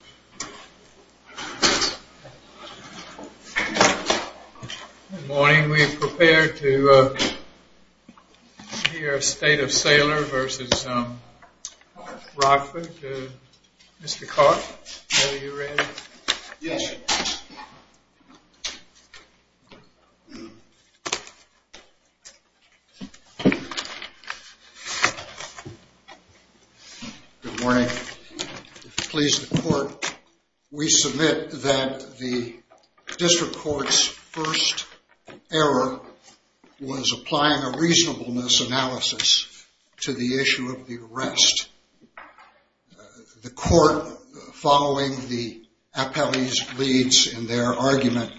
Good morning. We are prepared to hear State of Saylor v. Rochford. Mr. Clark, are you ready? Yes. Good morning. Please report. We submit that the District Court's first error was applying a reasonableness analysis to the issue of the arrest. The court, following the appellee's leads in their argument,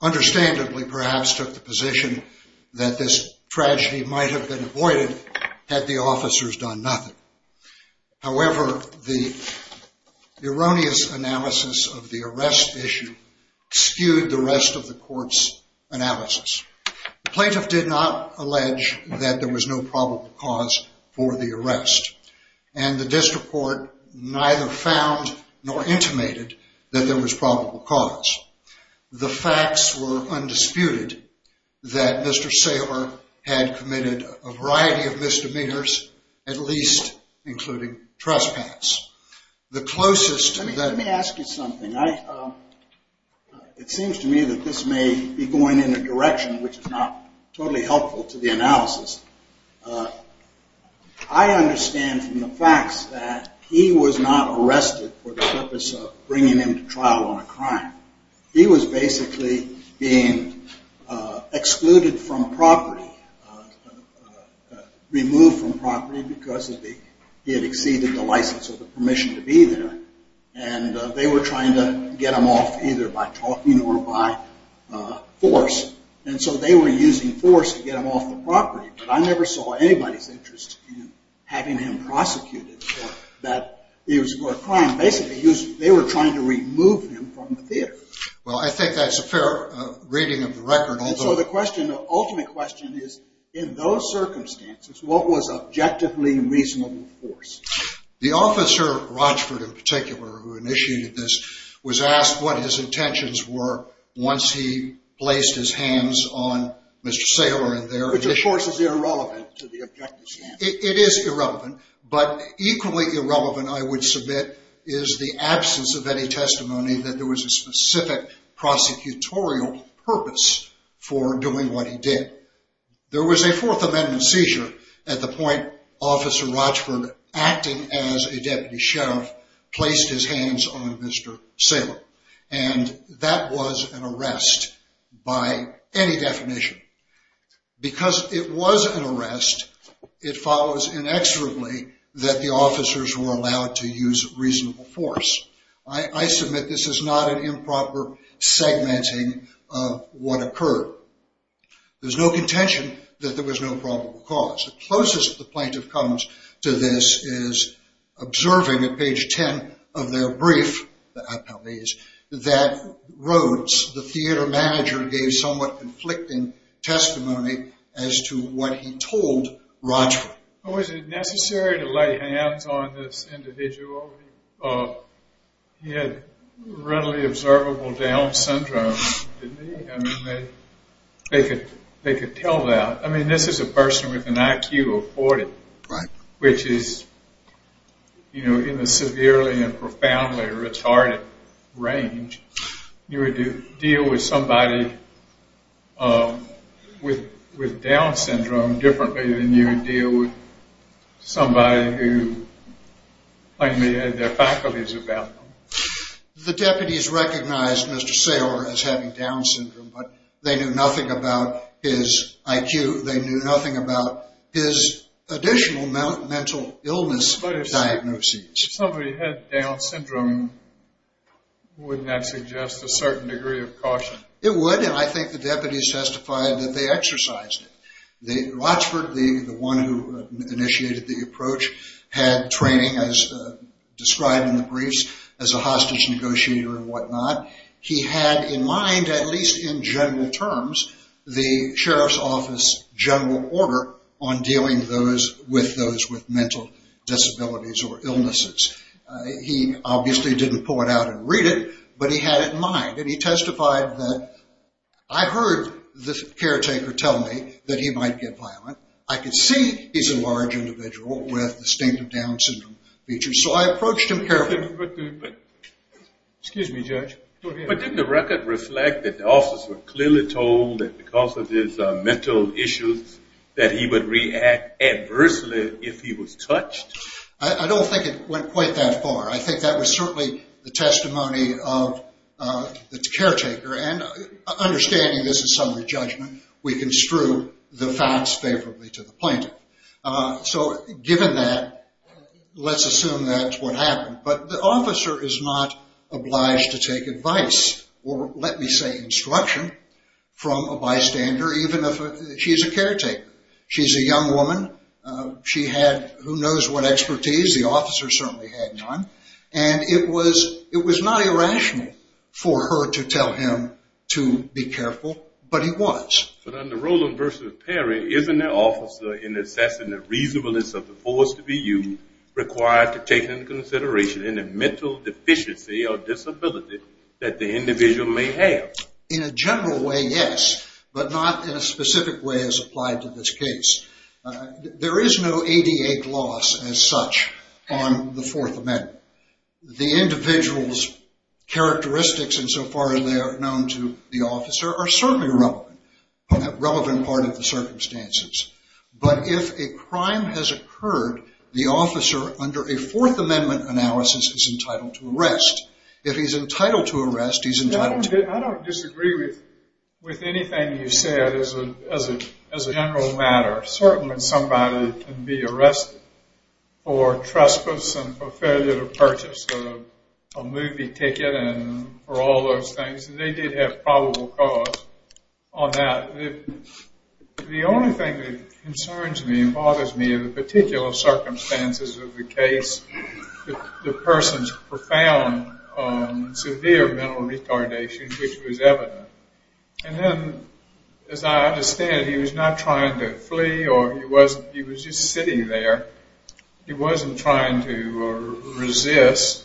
understandably perhaps took the position that this tragedy might have been avoided had the officers done nothing. However, the erroneous analysis of the arrest issue skewed the rest of the court's analysis. The plaintiff did not allege that there was no probable cause for the arrest, and the District Court neither found nor intimated that there was probable cause. The facts were undisputed that Mr. Saylor had committed a variety of misdemeanors, at least including trespass. Let me ask you something. It seems to me that this may be going in a direction which is not totally helpful to the analysis. I understand from the facts that he was not arrested for the purpose of bringing him to trial on a crime. He was basically being excluded from property, removed from property because he had exceeded the license or the permission to be there. They were trying to get him off either by talking or by force, and so they were using force to get him off the property, but I never saw anybody's interest in having him prosecuted for a crime. Basically, they were trying to remove him from the theater. Well, I think that's a fair reading of the record. So the ultimate question is, in those circumstances, what was objectively reasonable force? The officer, Rochford, in particular, who initiated this, was asked what his intentions were once he placed his hands on Mr. Saylor. Which, of course, is irrelevant to the objectives here. It is irrelevant, but equally irrelevant, I would submit, is the absence of any testimony that there was a specific prosecutorial purpose for doing what he did. There was a Fourth Amendment seizure at the point Officer Rochford, acting as a deputy sheriff, placed his hands on Mr. Saylor, and that was an arrest by any definition. Because it was an arrest, it follows inexorably that the officers were allowed to use reasonable force. I submit this is not an improper segmenting of what occurred. There's no contention that there was no probable cause. The closest the plaintiff comes to this is observing at page 10 of their brief that Rhodes, the theater manager, gave somewhat conflicting testimony as to what he told Rochford. Was it necessary to lay hands on this individual? He had readily observable Down syndrome. I mean, they could tell that. I mean, this is a person with an IQ of 40, which is, you know, in the severely and profoundly retarded range. You would deal with somebody with Down syndrome differently than you would deal with somebody who plainly had their faculties about them. The deputies recognized Mr. Saylor as having Down syndrome, but they knew nothing about his IQ. They knew nothing about his additional mental illness diagnoses. If somebody had Down syndrome, wouldn't that suggest a certain degree of caution? It would, and I think the deputies testified that they exercised it. Rochford, the one who initiated the approach, had training, as described in the briefs, as a hostage negotiator and whatnot. He had in mind, at least in general terms, the sheriff's office general order on dealing with those with mental disabilities or illnesses. He obviously didn't pull it out and read it, but he had it in mind, and he testified that, I heard the caretaker tell me that he might get violent. I could see he's a large individual with distinctive Down syndrome features, so I approached him carefully. Excuse me, Judge. But didn't the record reflect that the officers were clearly told that because of his mental issues that he would react adversely if he was touched? I don't think it went quite that far. I think that was certainly the testimony of the caretaker, and understanding this is summary judgment, we construe the facts favorably to the plaintiff. So given that, let's assume that's what happened. But the officer is not obliged to take advice, or let me say instruction, from a bystander, even if she's a caretaker. She's a young woman. She had who knows what expertise. The officer certainly had none, and it was not irrational for her to tell him to be careful, but he was. But under Rowland v. Perry, isn't the officer, in assessing the reasonableness of the force to be used, required to take into consideration any mental deficiency or disability that the individual may have? In a general way, yes, but not in a specific way as applied to this case. There is no ADA clause as such on the Fourth Amendment. The individual's characteristics, insofar as they are known to the officer, are certainly relevant, a relevant part of the circumstances. But if a crime has occurred, the officer, under a Fourth Amendment analysis, is entitled to arrest. If he's entitled to arrest, he's entitled to- a movie ticket and for all those things. They did have probable cause on that. The only thing that concerns me and bothers me in the particular circumstances of the case, the person's profound severe mental retardation, which was evident. And then, as I understand it, he was not trying to flee, or he was just sitting there. He wasn't trying to resist.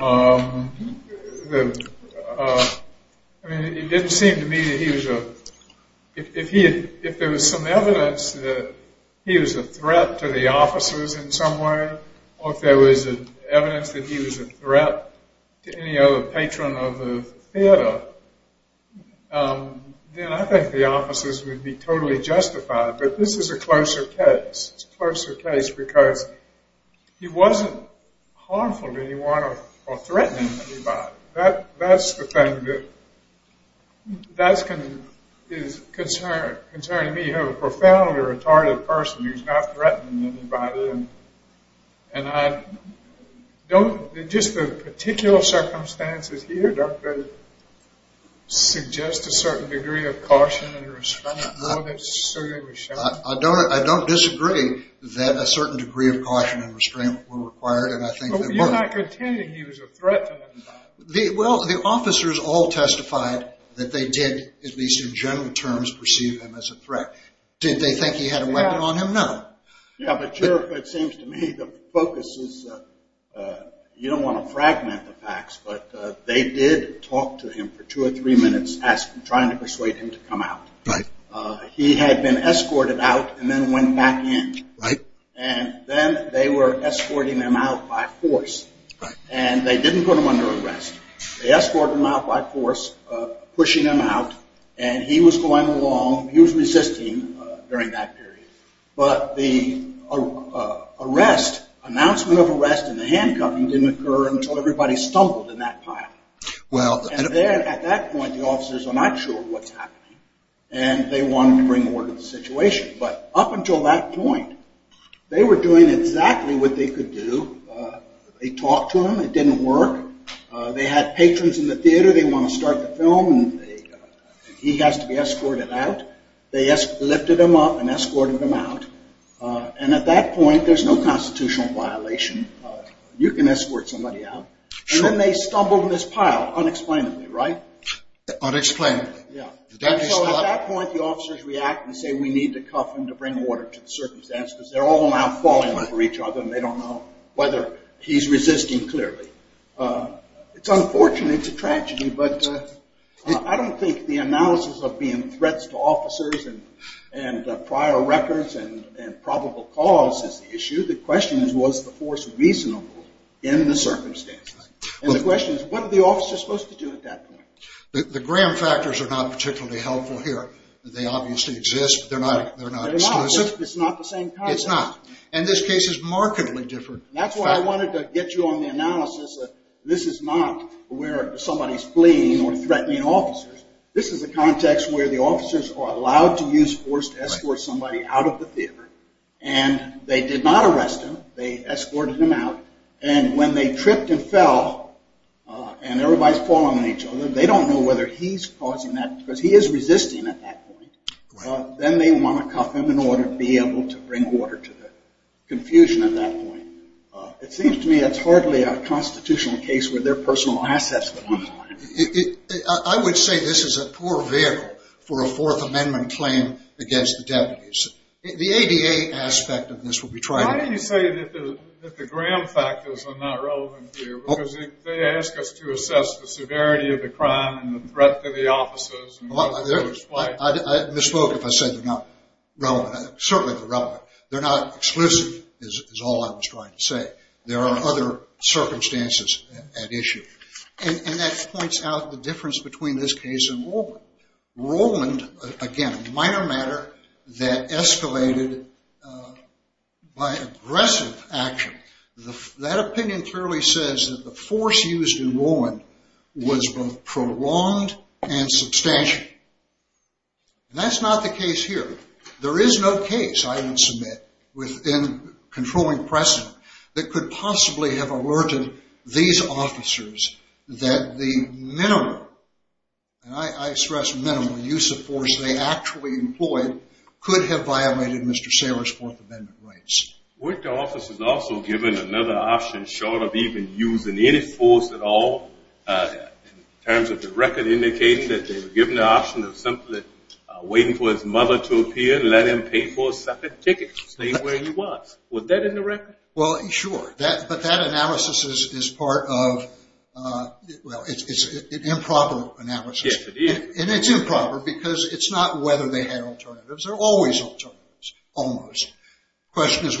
It didn't seem to me that he was a- if there was some evidence that he was a threat to the officers in some way, or if there was evidence that he was a threat to any other patron of the theater, then I think the officers would be totally justified. But this is a closer case. It's a closer case because he wasn't harmful to anyone or threatening anybody. That's the thing that is concerning me. You have a profoundly retarded person who's not threatening anybody. And I don't- just the particular circumstances here don't suggest a certain degree of caution and restraint. I don't disagree that a certain degree of caution and restraint were required. But you're not contending he was a threat to anybody. Well, the officers all testified that they did, at least in general terms, perceive him as a threat. Did they think he had a weapon on him? No. Yeah, but Sheriff, it seems to me the focus is- you don't want to fragment the facts, but they did talk to him for two or three minutes trying to persuade him to come out. Right. He had been escorted out and then went back in. Right. And then they were escorting him out by force. Right. And they didn't put him under arrest. They escorted him out by force, pushing him out. And he was going along. He was resisting during that period. But the arrest- announcement of arrest and the handcuffing didn't occur until everybody stumbled in that pile. Well- And then at that point, the officers were not sure what's happening. And they wanted to bring more to the situation. But up until that point, they were doing exactly what they could do. They talked to him. It didn't work. They had patrons in the theater. They want to start the film. He has to be escorted out. They lifted him up and escorted him out. And at that point, there's no constitutional violation. You can escort somebody out. Sure. And then they stumbled in this pile unexplainably, right? Unexplainably. Yeah. So at that point, the officers react and say we need to cuff him to bring order to the circumstance because they're all now falling for each other It's unfortunate. It's a tragedy. But I don't think the analysis of being threats to officers and prior records and probable cause is the issue. The question is, was the force reasonable in the circumstances? And the question is, what are the officers supposed to do at that point? The Graham factors are not particularly helpful here. They obviously exist. They're not exclusive. They're not. It's not the same concept. It's not. And this case is markedly different. That's why I wanted to get you on the analysis that this is not where somebody's fleeing or threatening officers. This is a context where the officers are allowed to use force to escort somebody out of the theater. And they did not arrest him. They escorted him out. And when they tripped and fell and everybody's falling on each other, they don't know whether he's causing that because he is resisting at that point. Then they want to cuff him in order to be able to bring order to that. Confusion at that point. It seems to me it's hardly a constitutional case where there are personal assets that run the line. I would say this is a poor vehicle for a Fourth Amendment claim against the deputies. The ADA aspect of this will be tried. Why didn't you say that the Graham factors are not relevant here? Because they ask us to assess the severity of the crime and the threat to the officers. I misspoke if I said they're not relevant. Certainly they're relevant. They're not exclusive is all I was trying to say. There are other circumstances at issue. And that points out the difference between this case and Rowland. Rowland, again, a minor matter that escalated by aggressive action. That opinion clearly says that the force used in Rowland was both prolonged and substantial. And that's not the case here. There is no case, I would submit, within controlling precedent that could possibly have alerted these officers that the minimal, and I stress minimal, use of force they actually employed could have violated Mr. Saylor's Fourth Amendment rights. Weren't the officers also given another option short of even using any force at all? In terms of the record indicating that they were given the option of simply waiting for his mother to appear, let him pay for a second ticket, stay where he was. Was that in the record? Well, sure. But that analysis is part of, well, it's an improper analysis. Yes, it is. And it's improper because it's not whether they had alternatives. There are always alternatives, almost. The question is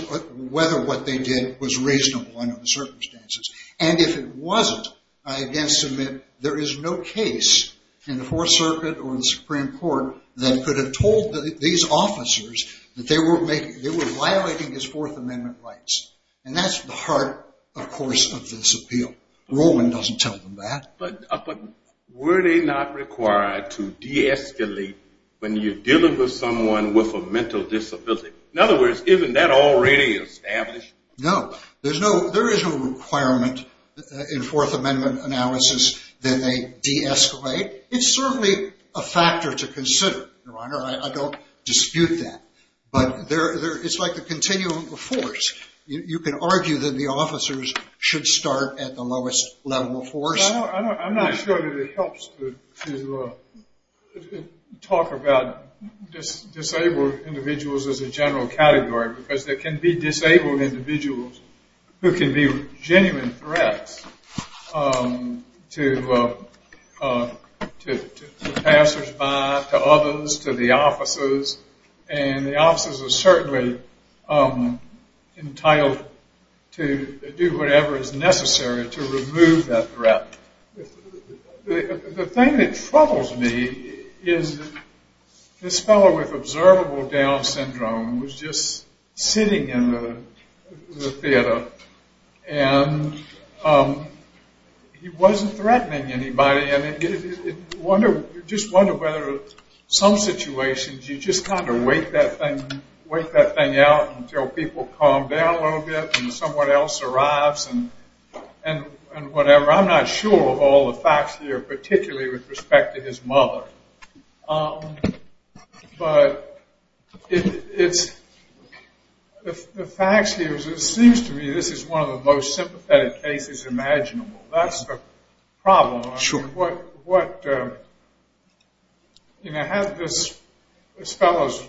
whether what they did was reasonable under the circumstances. And if it wasn't, I again submit there is no case in the Fourth Circuit or the Supreme Court that could have told these officers that they were violating his Fourth Amendment rights. And that's the heart, of course, of this appeal. Rowland doesn't tell them that. But were they not required to de-escalate when you're dealing with someone with a mental disability? In other words, isn't that already established? No. There is no requirement in Fourth Amendment analysis that they de-escalate. It's certainly a factor to consider, Your Honor. I don't dispute that. But it's like the continuum of force. You can argue that the officers should start at the lowest level of force. I'm not sure that it helps to talk about disabled individuals as a general category. Because there can be disabled individuals who can be genuine threats to passersby, to others, to the officers. And the officers are certainly entitled to do whatever is necessary to remove that threat. The thing that troubles me is this fellow with observable down syndrome was just sitting in the theater. And he wasn't threatening anybody. I just wonder whether in some situations you just kind of wait that thing out until people calm down a little bit, and someone else arrives, and whatever. I'm not sure of all the facts here, particularly with respect to his mother. But the facts here, it seems to me this is one of the most sympathetic cases imaginable. That's the problem. You know, this fellow is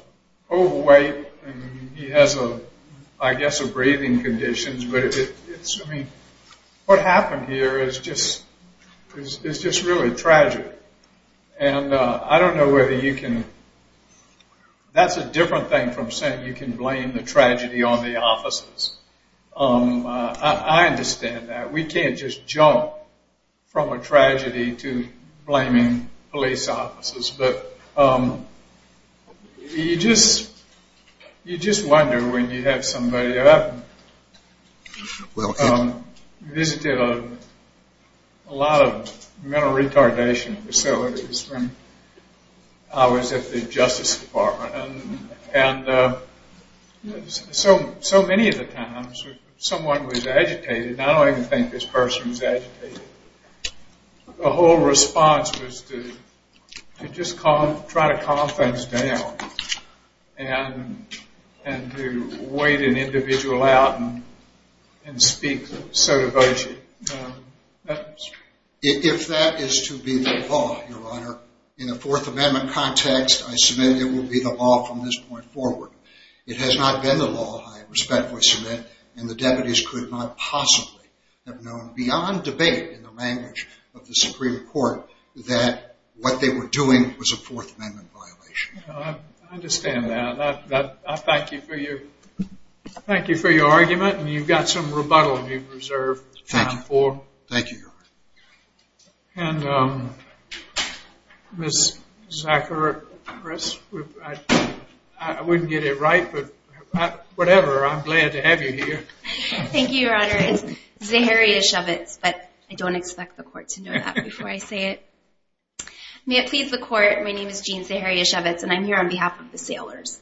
overweight, and he has, I guess, a breathing condition. But what happened here is just really tragic. And I don't know whether you can – that's a different thing from saying you can blame the tragedy on the officers. I understand that. We can't just jump from a tragedy to blaming police officers. But you just wonder when you have somebody – I visited a lot of mental retardation facilities when I was at the Justice Department. And so many of the times someone was agitated, and I don't even think this person was agitated. The whole response was to just try to calm things down and to wait an individual out and speak so devotedly. If that is to be the law, Your Honor, in a Fourth Amendment context, I submit it will be the law from this point forward. It has not been the law, I respectfully submit, and the deputies could not possibly have known beyond debate in the language of the Supreme Court that what they were doing was a Fourth Amendment violation. I understand that. I thank you for your argument, and you've got some rebuttal you've reserved time for. Thank you, Your Honor. And Ms. Zachary, I wouldn't get it right, but whatever, I'm glad to have you here. Thank you, Your Honor. It's Zaharia Shevitz, but I don't expect the court to know that before I say it. May it please the court, my name is Jean Zaharia Shevitz, and I'm here on behalf of the Sailors.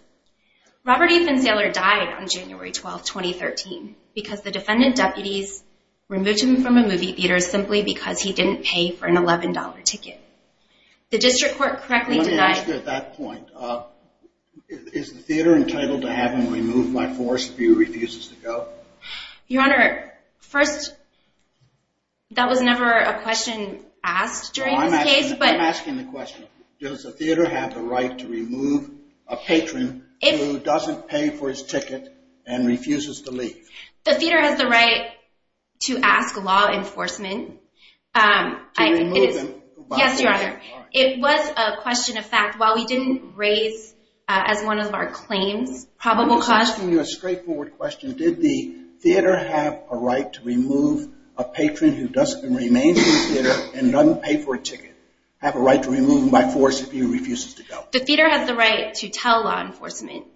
Robert E. Finn Sailor died on January 12, 2013, because the defendant deputies removed him from a movie theater simply because he didn't pay for an $11 ticket. The district court correctly denied— Let me ask you at that point, is the theater entitled to have him removed by force if he refuses to go? Your Honor, first, that was never a question asked during this case. I'm asking the question, does the theater have the right to remove a patron who doesn't pay for his ticket and refuses to leave? The theater has the right to ask law enforcement. To remove him by force? Yes, Your Honor. It was a question of fact. While we didn't raise, as one of our claims, probable cause— I'm just asking you a straightforward question. Did the theater have a right to remove a patron who remains in the theater and doesn't pay for a ticket? Have a right to remove him by force if he refuses to go? The theater has the right to tell law enforcement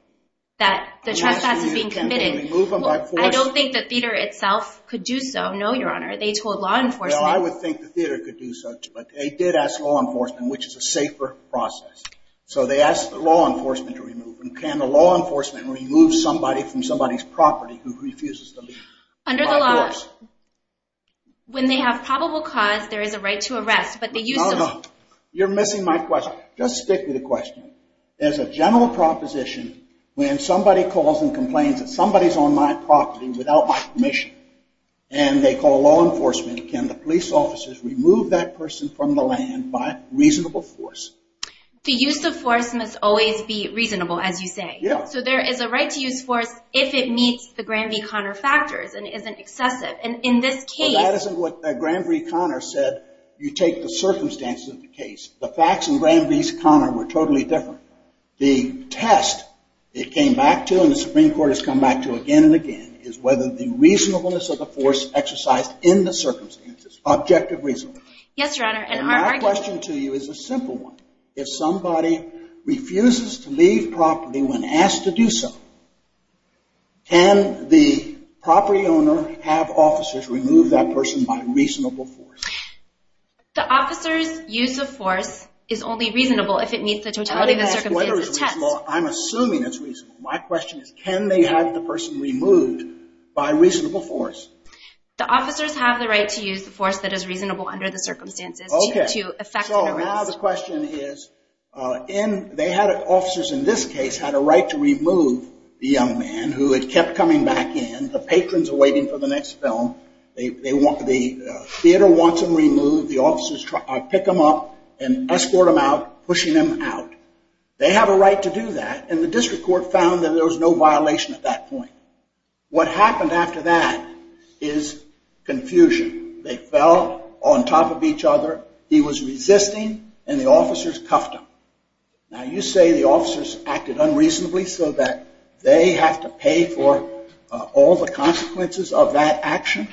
that the trespass is being committed. I don't think the theater itself could do so. No, Your Honor. They told law enforcement— Well, I would think the theater could do so, but they did ask law enforcement, which is a safer process. So they asked the law enforcement to remove him. Can the law enforcement remove somebody from somebody's property who refuses to leave by force? Under the law, when they have probable cause, there is a right to arrest, but they use them— No, no. You're missing my question. Just stick with the question. As a general proposition, when somebody calls and complains that somebody's on my property without my permission, and they call law enforcement, can the police officers remove that person from the land by reasonable force? The use of force must always be reasonable, as you say. Yeah. So there is a right to use force if it meets the Granby-Conner factors and isn't excessive. And in this case— Well, that isn't what Granby-Conner said. You take the circumstances of the case. The facts in Granby's-Conner were totally different. The test it came back to and the Supreme Court has come back to again and again is whether the reasonableness of the force exercised in the circumstances, objective reason. Yes, Your Honor. And my question to you is a simple one. If somebody refuses to leave property when asked to do so, can the property owner have officers remove that person by reasonable force? The officer's use of force is only reasonable if it meets the totality of the circumstances of the test. I don't ask whether it's reasonable. I'm assuming it's reasonable. My question is can they have the person removed by reasonable force? The officers have the right to use the force that is reasonable under the circumstances to effect an arrest. Okay. So now the question is they had officers in this case had a right to remove the young man who had kept coming back in. The patrons are waiting for the next film. The theater wants him removed. The officers pick him up and escort him out, pushing him out. They have a right to do that. And the district court found that there was no violation at that point. What happened after that is confusion. They fell on top of each other. He was resisting, and the officers cuffed him. Now, you say the officers acted unreasonably so that they have to pay for all the consequences of that action?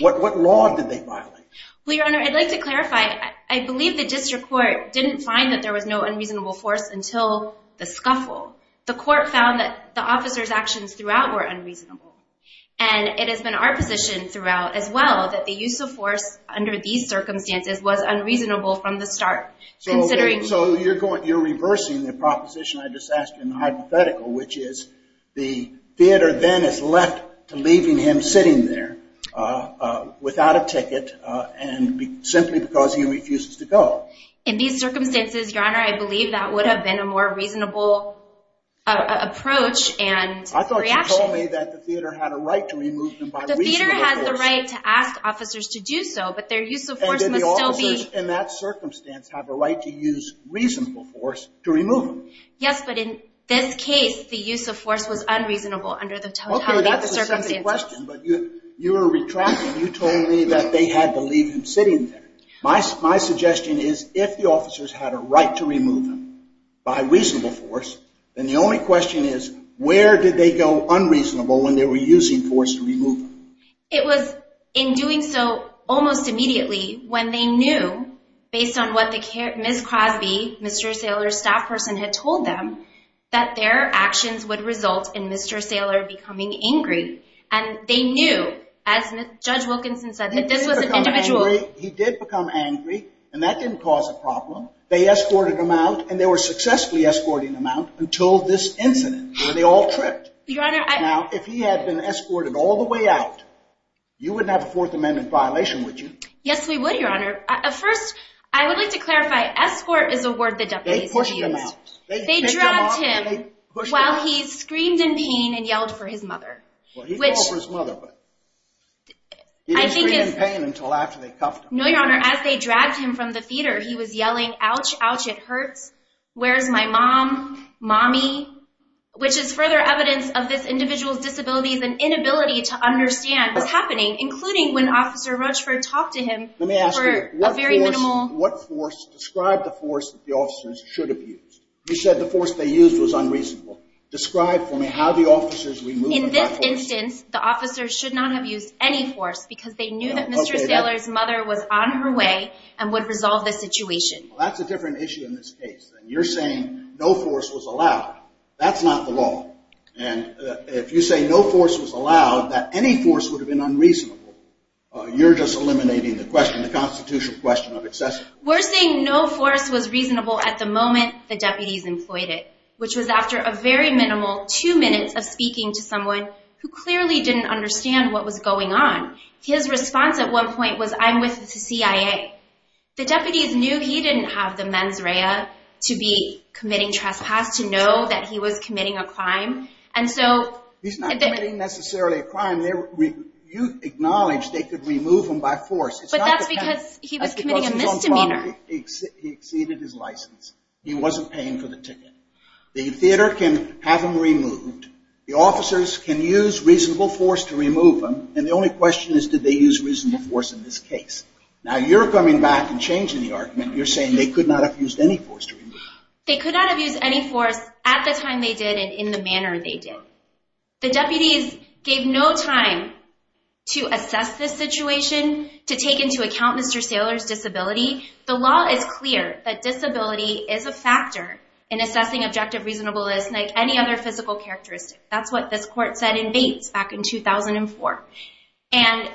What law did they violate? Well, Your Honor, I'd like to clarify. I believe the district court didn't find that there was no unreasonable force until the scuffle. The court found that the officers' actions throughout were unreasonable, and it has been our position throughout as well that the use of force under these circumstances was unreasonable from the start. So you're reversing the proposition I just asked you in the hypothetical, which is the theater then is left to leaving him sitting there without a ticket simply because he refuses to go. In these circumstances, Your Honor, I believe that would have been a more reasonable approach and reaction. I thought you told me that the theater had a right to remove him by reasonable force. The theater has the right to ask officers to do so, but their use of force must still be... And that the officers in that circumstance have a right to use reasonable force to remove him. Yes, but in this case, the use of force was unreasonable under the totality of the circumstances. Okay, that's a sensitive question, but you were retracting. You told me that they had to leave him sitting there. My suggestion is if the officers had a right to remove him by reasonable force, then the only question is where did they go unreasonable when they were using force to remove him? It was in doing so almost immediately when they knew, based on what Ms. Crosby, Mr. Saylor's staff person, had told them that their actions would result in Mr. Saylor becoming angry. And they knew, as Judge Wilkinson said, that this was an individual... He did become angry, and that didn't cause a problem. They escorted him out, and they were successfully escorting him out until this incident where they all tripped. Your Honor, I... Now, if he had been escorted all the way out, you wouldn't have a Fourth Amendment violation, would you? Yes, we would, Your Honor. First, I would like to clarify, escort is a word that deputies use. They pushed him out. They dropped him while he screamed in pain and yelled for his mother, which... No, Your Honor, as they dragged him from the theater, he was yelling, ouch, ouch, it hurts, where's my mom, mommy, which is further evidence of this individual's disabilities and inability to understand what's happening, including when Officer Rochford talked to him for a very minimal... Let me ask you, what force, describe the force that the officers should have used. You said the force they used was unreasonable. Describe for me how the officers removed it by force. No, okay, that... Well, that's a different issue in this case. You're saying no force was allowed. That's not the law. And if you say no force was allowed, that any force would have been unreasonable, you're just eliminating the question, the constitutional question of excesses. He clearly didn't understand what was going on. His response at one point was, I'm with the CIA. The deputies knew he didn't have the mens rea to be committing trespass, to know that he was committing a crime, and so... He's not committing necessarily a crime. You acknowledge they could remove him by force. But that's because he was committing a misdemeanor. He exceeded his license. He wasn't paying for the ticket. The theater can have him removed. The officers can use reasonable force to remove him, and the only question is, did they use reasonable force in this case? Now, you're coming back and changing the argument. You're saying they could not have used any force to remove him. They could not have used any force at the time they did and in the manner they did. The deputies gave no time to assess this situation, to take into account Mr. Saylor's disability. The law is clear that disability is a factor in assessing objective reasonableness like any other physical characteristic. That's what this court said in Bates back in 2004. And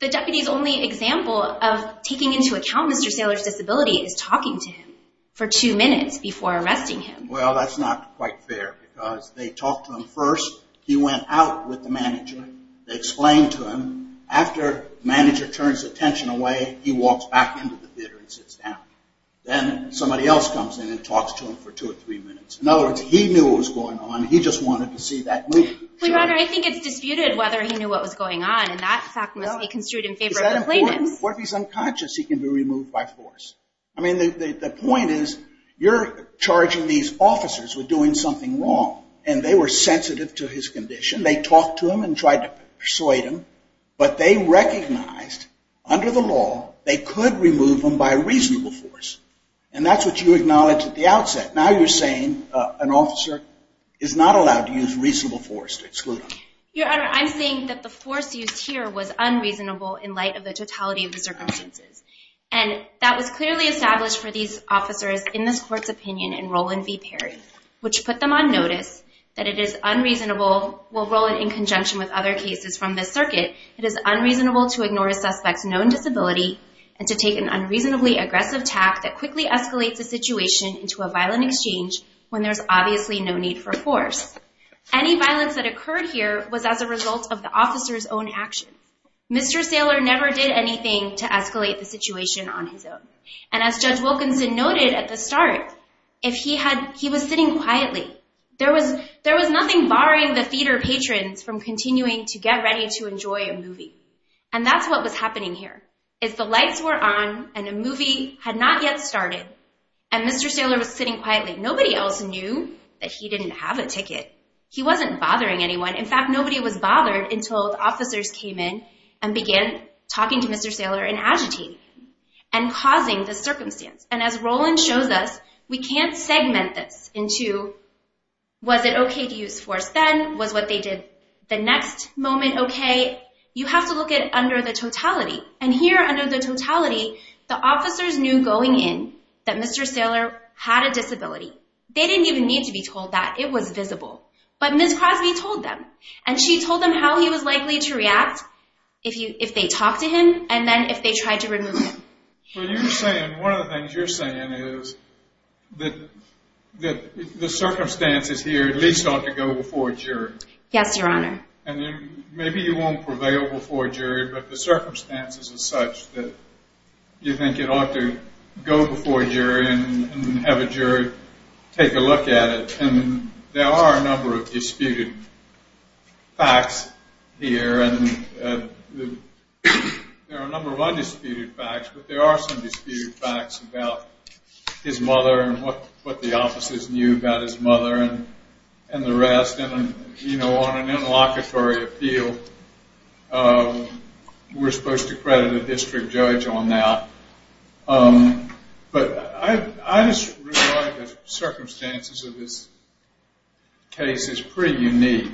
the deputies' only example of taking into account Mr. Saylor's disability is talking to him for two minutes before arresting him. Well, that's not quite fair, because they talked to him first. He went out with the manager. They explained to him. After the manager turns attention away, he walks back into the theater and sits down. Then somebody else comes in and talks to him for two or three minutes. In other words, he knew what was going on. He just wanted to see that movie. Your Honor, I think it's disputed whether he knew what was going on, and that fact must be construed in favor of the plaintiffs. Is that important? What if he's unconscious? He can be removed by force. I mean, the point is you're charging these officers with doing something wrong, and they were sensitive to his condition. They talked to him and tried to persuade him, but they recognized under the law they could remove him by reasonable force, and that's what you acknowledged at the outset. Now you're saying an officer is not allowed to use reasonable force to exclude him. Your Honor, I'm saying that the force used here was unreasonable in light of the totality of the circumstances, and that was clearly established for these officers in this Court's opinion in Roland v. Perry, which put them on notice that it is unreasonable. Well, Roland, in conjunction with other cases from this circuit, it is unreasonable to ignore a suspect's known disability and to take an unreasonably aggressive tact that quickly escalates a situation into a violent exchange when there's obviously no need for force. Any violence that occurred here was as a result of the officer's own action. Mr. Saylor never did anything to escalate the situation on his own, and as Judge Wilkinson noted at the start, he was sitting quietly. There was nothing barring the theater patrons from continuing to get ready to enjoy a movie, and that's what was happening here is the lights were on and a movie had not yet started, and Mr. Saylor was sitting quietly. Nobody else knew that he didn't have a ticket. He wasn't bothering anyone. In fact, nobody was bothered until the officers came in and began talking to Mr. Saylor and agitating him and causing the circumstance, and as Roland shows us, we can't segment this into was it okay to use force then, was what they did the next moment okay? You have to look at it under the totality, and here under the totality, the officers knew going in that Mr. Saylor had a disability. They didn't even need to be told that. It was visible, but Ms. Crosby told them, and she told them how he was likely to react if they talked to him and then if they tried to remove him. So you're saying one of the things you're saying is that the circumstances here at least ought to go before a jury. Yes, Your Honor. Maybe you won't prevail before a jury, but the circumstances are such that you think it ought to go before a jury and have a jury take a look at it, and there are a number of disputed facts here, and there are a number of undisputed facts, but there are some disputed facts about his mother and what the officers knew about his mother and the rest, and, you know, on an interlocutory appeal, we're supposed to credit a district judge on that. But I just realize the circumstances of this case is pretty unique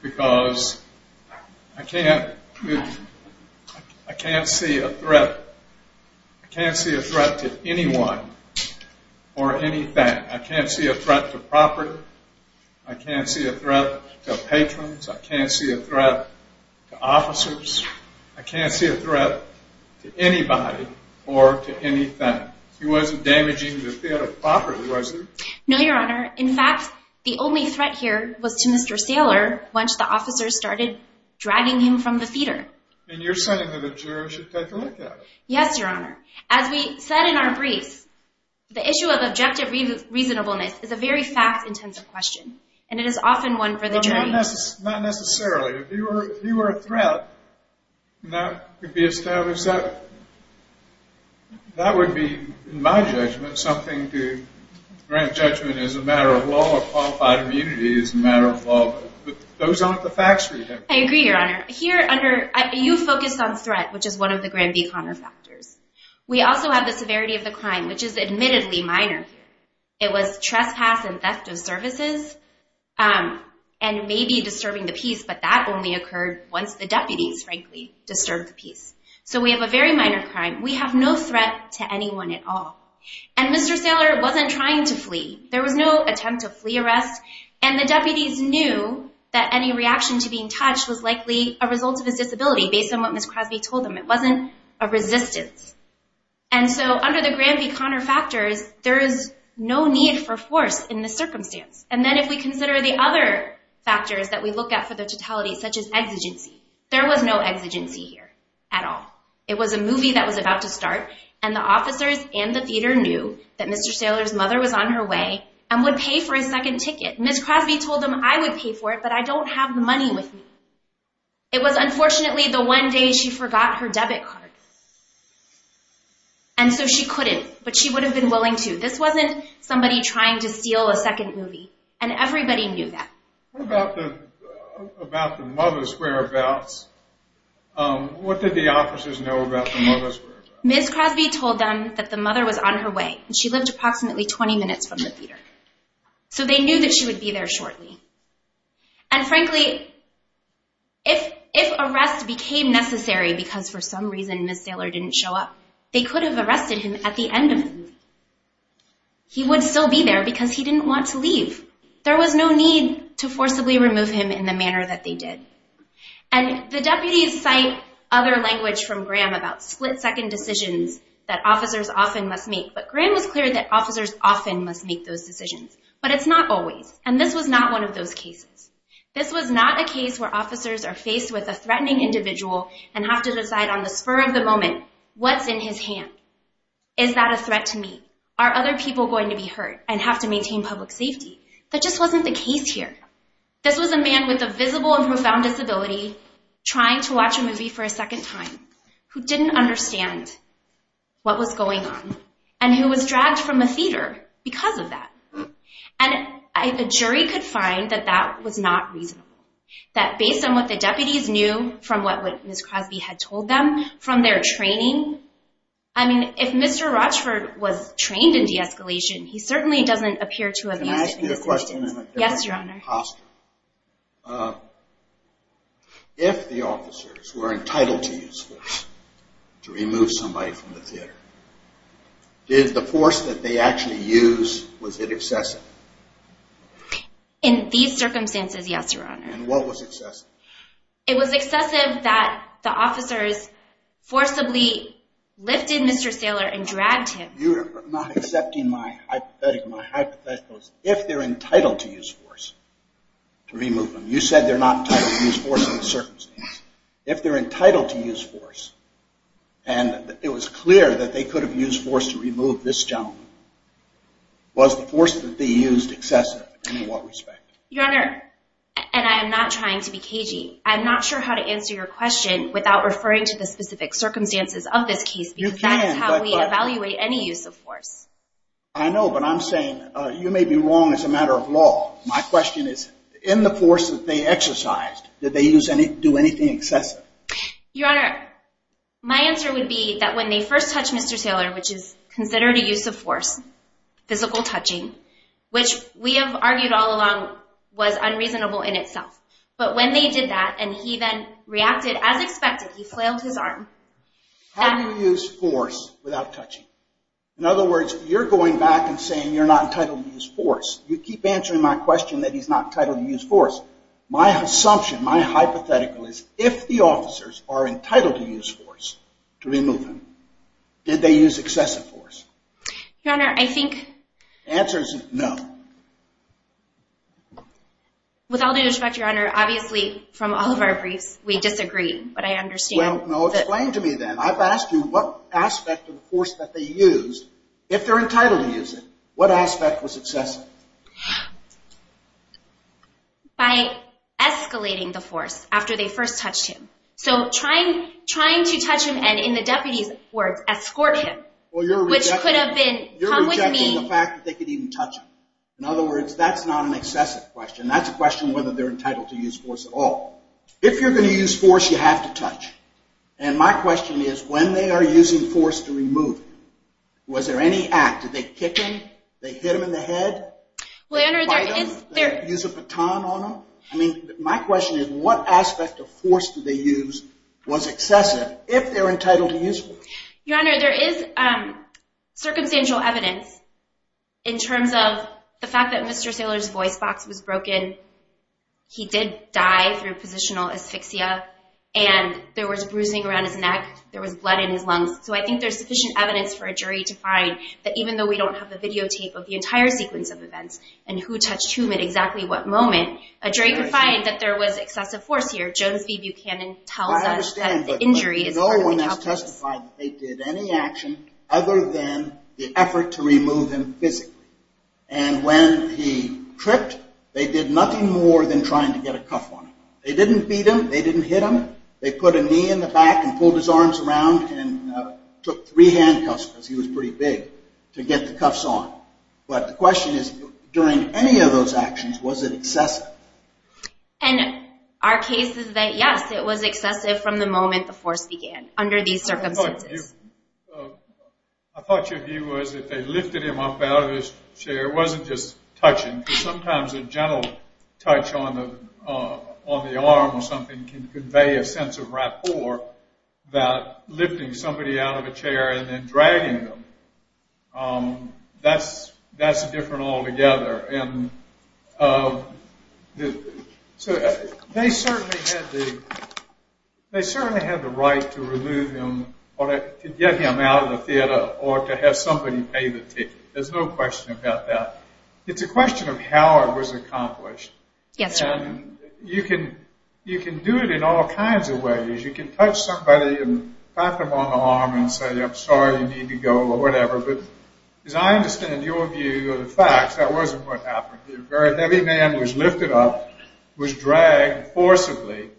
because I can't see a threat to anyone or anything. I can't see a threat to property. I can't see a threat to patrons. I can't see a threat to officers. I can't see a threat to anybody or to anything. He wasn't damaging the theater property, was he? No, Your Honor. In fact, the only threat here was to Mr. Saylor once the officers started dragging him from the theater. And you're saying that a jury should take a look at it. Yes, Your Honor. As we said in our briefs, the issue of objective reasonableness is a very fact-intensive question, and it is often one for the jury. Not necessarily. If you were a threat, that would be established. That would be, in my judgment, something to grant judgment as a matter of law or qualified immunity as a matter of law. But those aren't the facts for you. I agree, Your Honor. Here, you focused on threat, which is one of the Granby-Conner factors. We also have the severity of the crime, which is admittedly minor here. It was trespass and theft of services and maybe disturbing the peace, but that only occurred once the deputies, frankly, disturbed the peace. So we have a very minor crime. We have no threat to anyone at all. And Mr. Saylor wasn't trying to flee. There was no attempt to flee arrest, and the deputies knew that any reaction to being touched was likely a result of his disability based on what Ms. Crosby told them. It wasn't a resistance. And so under the Granby-Conner factors, there is no need for force in this circumstance. And then if we consider the other factors that we look at for the totality, such as exigency, there was no exigency here at all. It was a movie that was about to start, and the officers and the theater knew that Mr. Saylor's mother was on her way and would pay for his second ticket. Ms. Crosby told them, I would pay for it, but I don't have the money with me. It was unfortunately the one day she forgot her debit card. And so she couldn't, but she would have been willing to. This wasn't somebody trying to steal a second movie, and everybody knew that. What about the mother's whereabouts? What did the officers know about the mother's whereabouts? Ms. Crosby told them that the mother was on her way, and she lived approximately 20 minutes from the theater. So they knew that she would be there shortly. And frankly, if arrest became necessary because for some reason Ms. Saylor didn't show up, they could have arrested him at the end of the movie. He would still be there because he didn't want to leave. There was no need to forcibly remove him in the manner that they did. And the deputies cite other language from Graham about split-second decisions that officers often must make, but Graham was clear that officers often must make those decisions. But it's not always, and this was not one of those cases. This was not a case where officers are faced with a threatening individual and have to decide on the spur of the moment what's in his hand. Is that a threat to me? Are other people going to be hurt and have to maintain public safety? That just wasn't the case here. This was a man with a visible and profound disability trying to watch a movie for a second time who didn't understand what was going on and who was dragged from a theater because of that. And a jury could find that that was not reasonable, that based on what the deputies knew from what Ms. Crosby had told them from their training, I mean, if Mr. Rochford was trained in de-escalation, he certainly doesn't appear to have used it in this instance. Can I ask you a question in a different posture? Yes, Your Honor. If the officers were entitled to use force to remove somebody from the theater, did the force that they actually used, was it excessive? In these circumstances, yes, Your Honor. And what was excessive? It was excessive that the officers forcibly lifted Mr. Saylor and dragged him. You are not accepting my hypothetical. My hypothetical is if they're entitled to use force to remove him. You said they're not entitled to use force in these circumstances. If they're entitled to use force, and it was clear that they could have used force to remove this gentleman, was the force that they used excessive, and in what respect? Your Honor, and I am not trying to be cagey, I'm not sure how to answer your question without referring to the specific circumstances of this case, because that is how we evaluate any use of force. I know, but I'm saying you may be wrong as a matter of law. My question is, in the force that they exercised, did they do anything excessive? Your Honor, my answer would be that when they first touched Mr. Saylor, which is considered a use of force, physical touching, which we have argued all along was unreasonable in itself. But when they did that, and he then reacted as expected, he flailed his arm. How do you use force without touching? In other words, you're going back and saying you're not entitled to use force. You keep answering my question that he's not entitled to use force. My assumption, my hypothetical is, if the officers are entitled to use force to remove him, did they use excessive force? Your Honor, I think... The answer is no. With all due respect, Your Honor, obviously from all of our briefs we disagree, but I understand. Well, explain to me then. I've asked you what aspect of force that they used. If they're entitled to use it, what aspect was excessive? By escalating the force after they first touched him. So trying to touch him and, in the deputy's words, escort him, which could have been, come with me... You're rejecting the fact that they could even touch him. In other words, that's not an excessive question. That's a question of whether they're entitled to use force at all. If you're going to use force, you have to touch. And my question is, when they are using force to remove him, was there any act? Did they kick him? Did they hit him in the head? Well, Your Honor, there is... Did they use a baton on him? My question is, what aspect of force did they use was excessive if they're entitled to use force? Your Honor, there is circumstantial evidence in terms of the fact that Mr. Saylor's voice box was broken, he did die through positional asphyxia, and there was bruising around his neck, there was blood in his lungs. So I think there's sufficient evidence for a jury to find that even though we don't have the videotape of the entire sequence of events and who touched whom at exactly what moment, a jury could find that there was excessive force here. I understand, but no one has testified that they did any action other than the effort to remove him physically. And when he tripped, they did nothing more than trying to get a cuff on him. They didn't beat him. They didn't hit him. They put a knee in the back and pulled his arms around and took three handcuffs because he was pretty big to get the cuffs on. But the question is, during any of those actions, was it excessive? And our case is that, yes, it was excessive from the moment the force began, under these circumstances. I thought your view was that they lifted him up out of his chair. It wasn't just touching. Sometimes a gentle touch on the arm or something can convey a sense of rapport that lifting somebody out of a chair and then dragging them, that's different altogether. And so they certainly had the right to remove him or to get him out of the theater or to have somebody pay the ticket. There's no question about that. It's a question of how it was accomplished. Yes, sir. And you can do it in all kinds of ways. You can touch somebody and pat them on the arm and say, I'm sorry, you need to go, or whatever. But as I understand your view of the facts, that wasn't what happened. A very heavy man was lifted up, was dragged forcibly,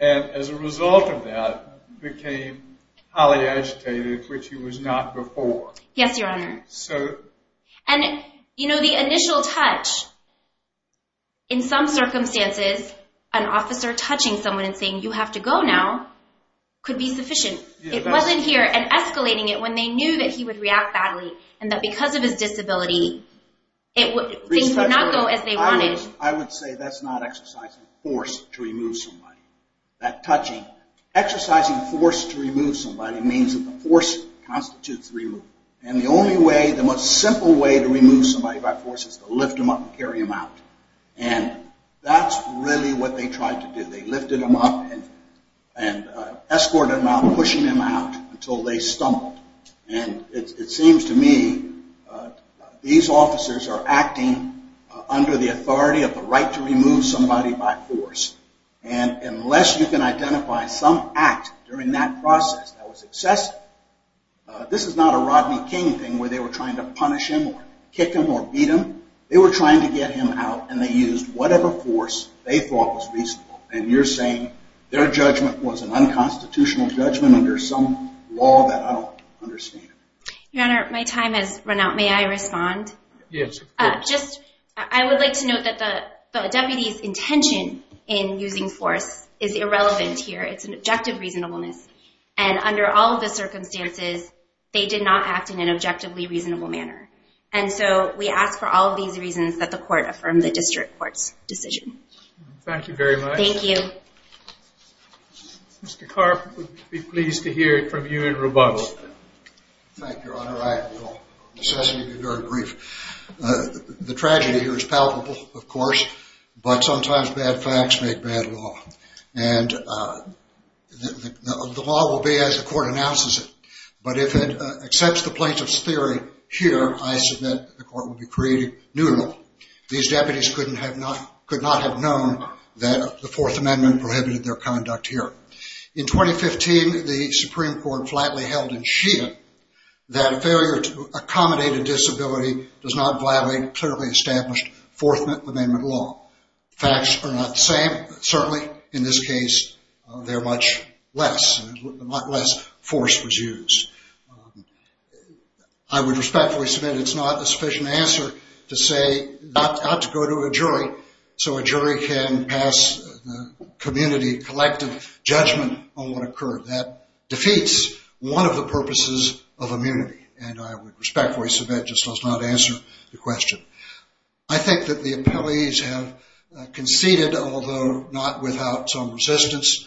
and as a result of that became highly agitated, which he was not before. Yes, Your Honor. And, you know, the initial touch, in some circumstances, an officer touching someone and saying, you have to go now, could be sufficient. It wasn't here. And escalating it when they knew that he would react badly and that because of his disability, things would not go as they wanted. I would say that's not exercising force to remove somebody, that touching. Exercising force to remove somebody means that the force constitutes removal. And the only way, the most simple way to remove somebody by force is to lift them up and carry them out. And that's really what they tried to do. They lifted him up and escorted him out, pushing him out until they stumbled. And it seems to me these officers are acting under the authority of the right to remove somebody by force. And unless you can identify some act during that process that was excessive, this is not a Rodney King thing where they were trying to punish him or kick him or beat him. They were trying to get him out, and they used whatever force they thought was reasonable. And you're saying their judgment was an unconstitutional judgment under some law that I don't understand. Your Honor, my time has run out. May I respond? Yes. I would like to note that the deputy's intention in using force is irrelevant here. It's an objective reasonableness. And under all of the circumstances, they did not act in an objectively reasonable manner. And so we ask for all of these reasons that the court affirm the district court's decision. Thank you very much. Thank you. Mr. Karp, we'd be pleased to hear from you in rebuttal. Thank you, Your Honor. I will necessarily be very brief. The tragedy here is palpable, of course, but sometimes bad facts make bad law. And the law will be as the court announces it. But if it accepts the plaintiff's theory here, I submit the court will be created neutral. These deputies could not have known that the Fourth Amendment prohibited their conduct here. In 2015, the Supreme Court flatly held in Sheehan that failure to accommodate a disability does not violate clearly established Fourth Amendment law. Facts are not the same. Certainly, in this case, they're much less. Much less force was used. I would respectfully submit it's not a sufficient answer to say not to go to a jury so a jury can pass the community collective judgment on what occurred. That defeats one of the purposes of immunity. I think that the appellees have conceded, although not without some resistance.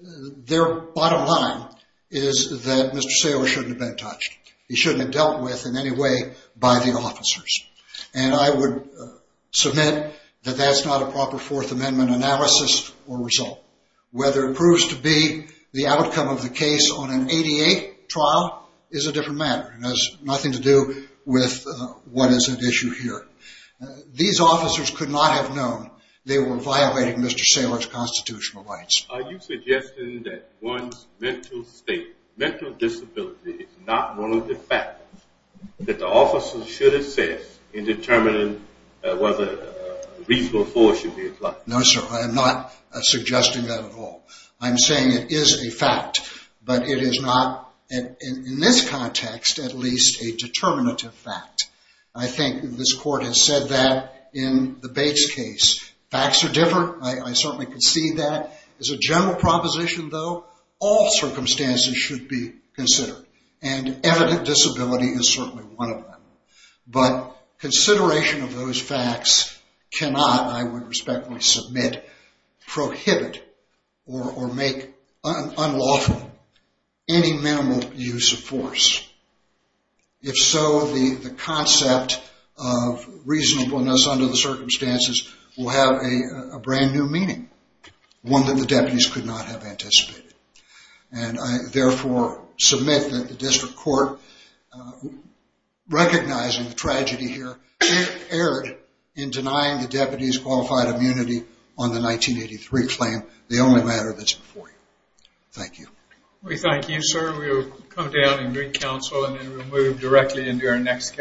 Their bottom line is that Mr. Saylor shouldn't have been touched. He shouldn't have dealt with in any way by the officers. And I would submit that that's not a proper Fourth Amendment analysis or result. Whether it proves to be the outcome of the case on an ADA trial is a different matter. It has nothing to do with what is at issue here. These officers could not have known they were violating Mr. Saylor's constitutional rights. Are you suggesting that one's mental state, mental disability, is not one of the factors that the officers should assess in determining whether reasonable force should be applied? No, sir. I am not suggesting that at all. I'm saying it is a fact. But it is not, in this context, at least a determinative fact. I think this court has said that in the Bates case. Facts are different. I certainly concede that. As a general proposition, though, all circumstances should be considered. And evident disability is certainly one of them. But consideration of those facts cannot, I would respectfully submit, prohibit or make unlawful any minimal use of force. If so, the concept of reasonableness under the circumstances will have a brand new meaning, one that the deputies could not have anticipated. And I therefore submit that the district court, recognizing the tragedy here, erred in denying the deputies qualified immunity on the 1983 claim, the only matter that's before you. Thank you. We thank you, sir. We will come down and bring counsel, and then we'll move directly into our next case.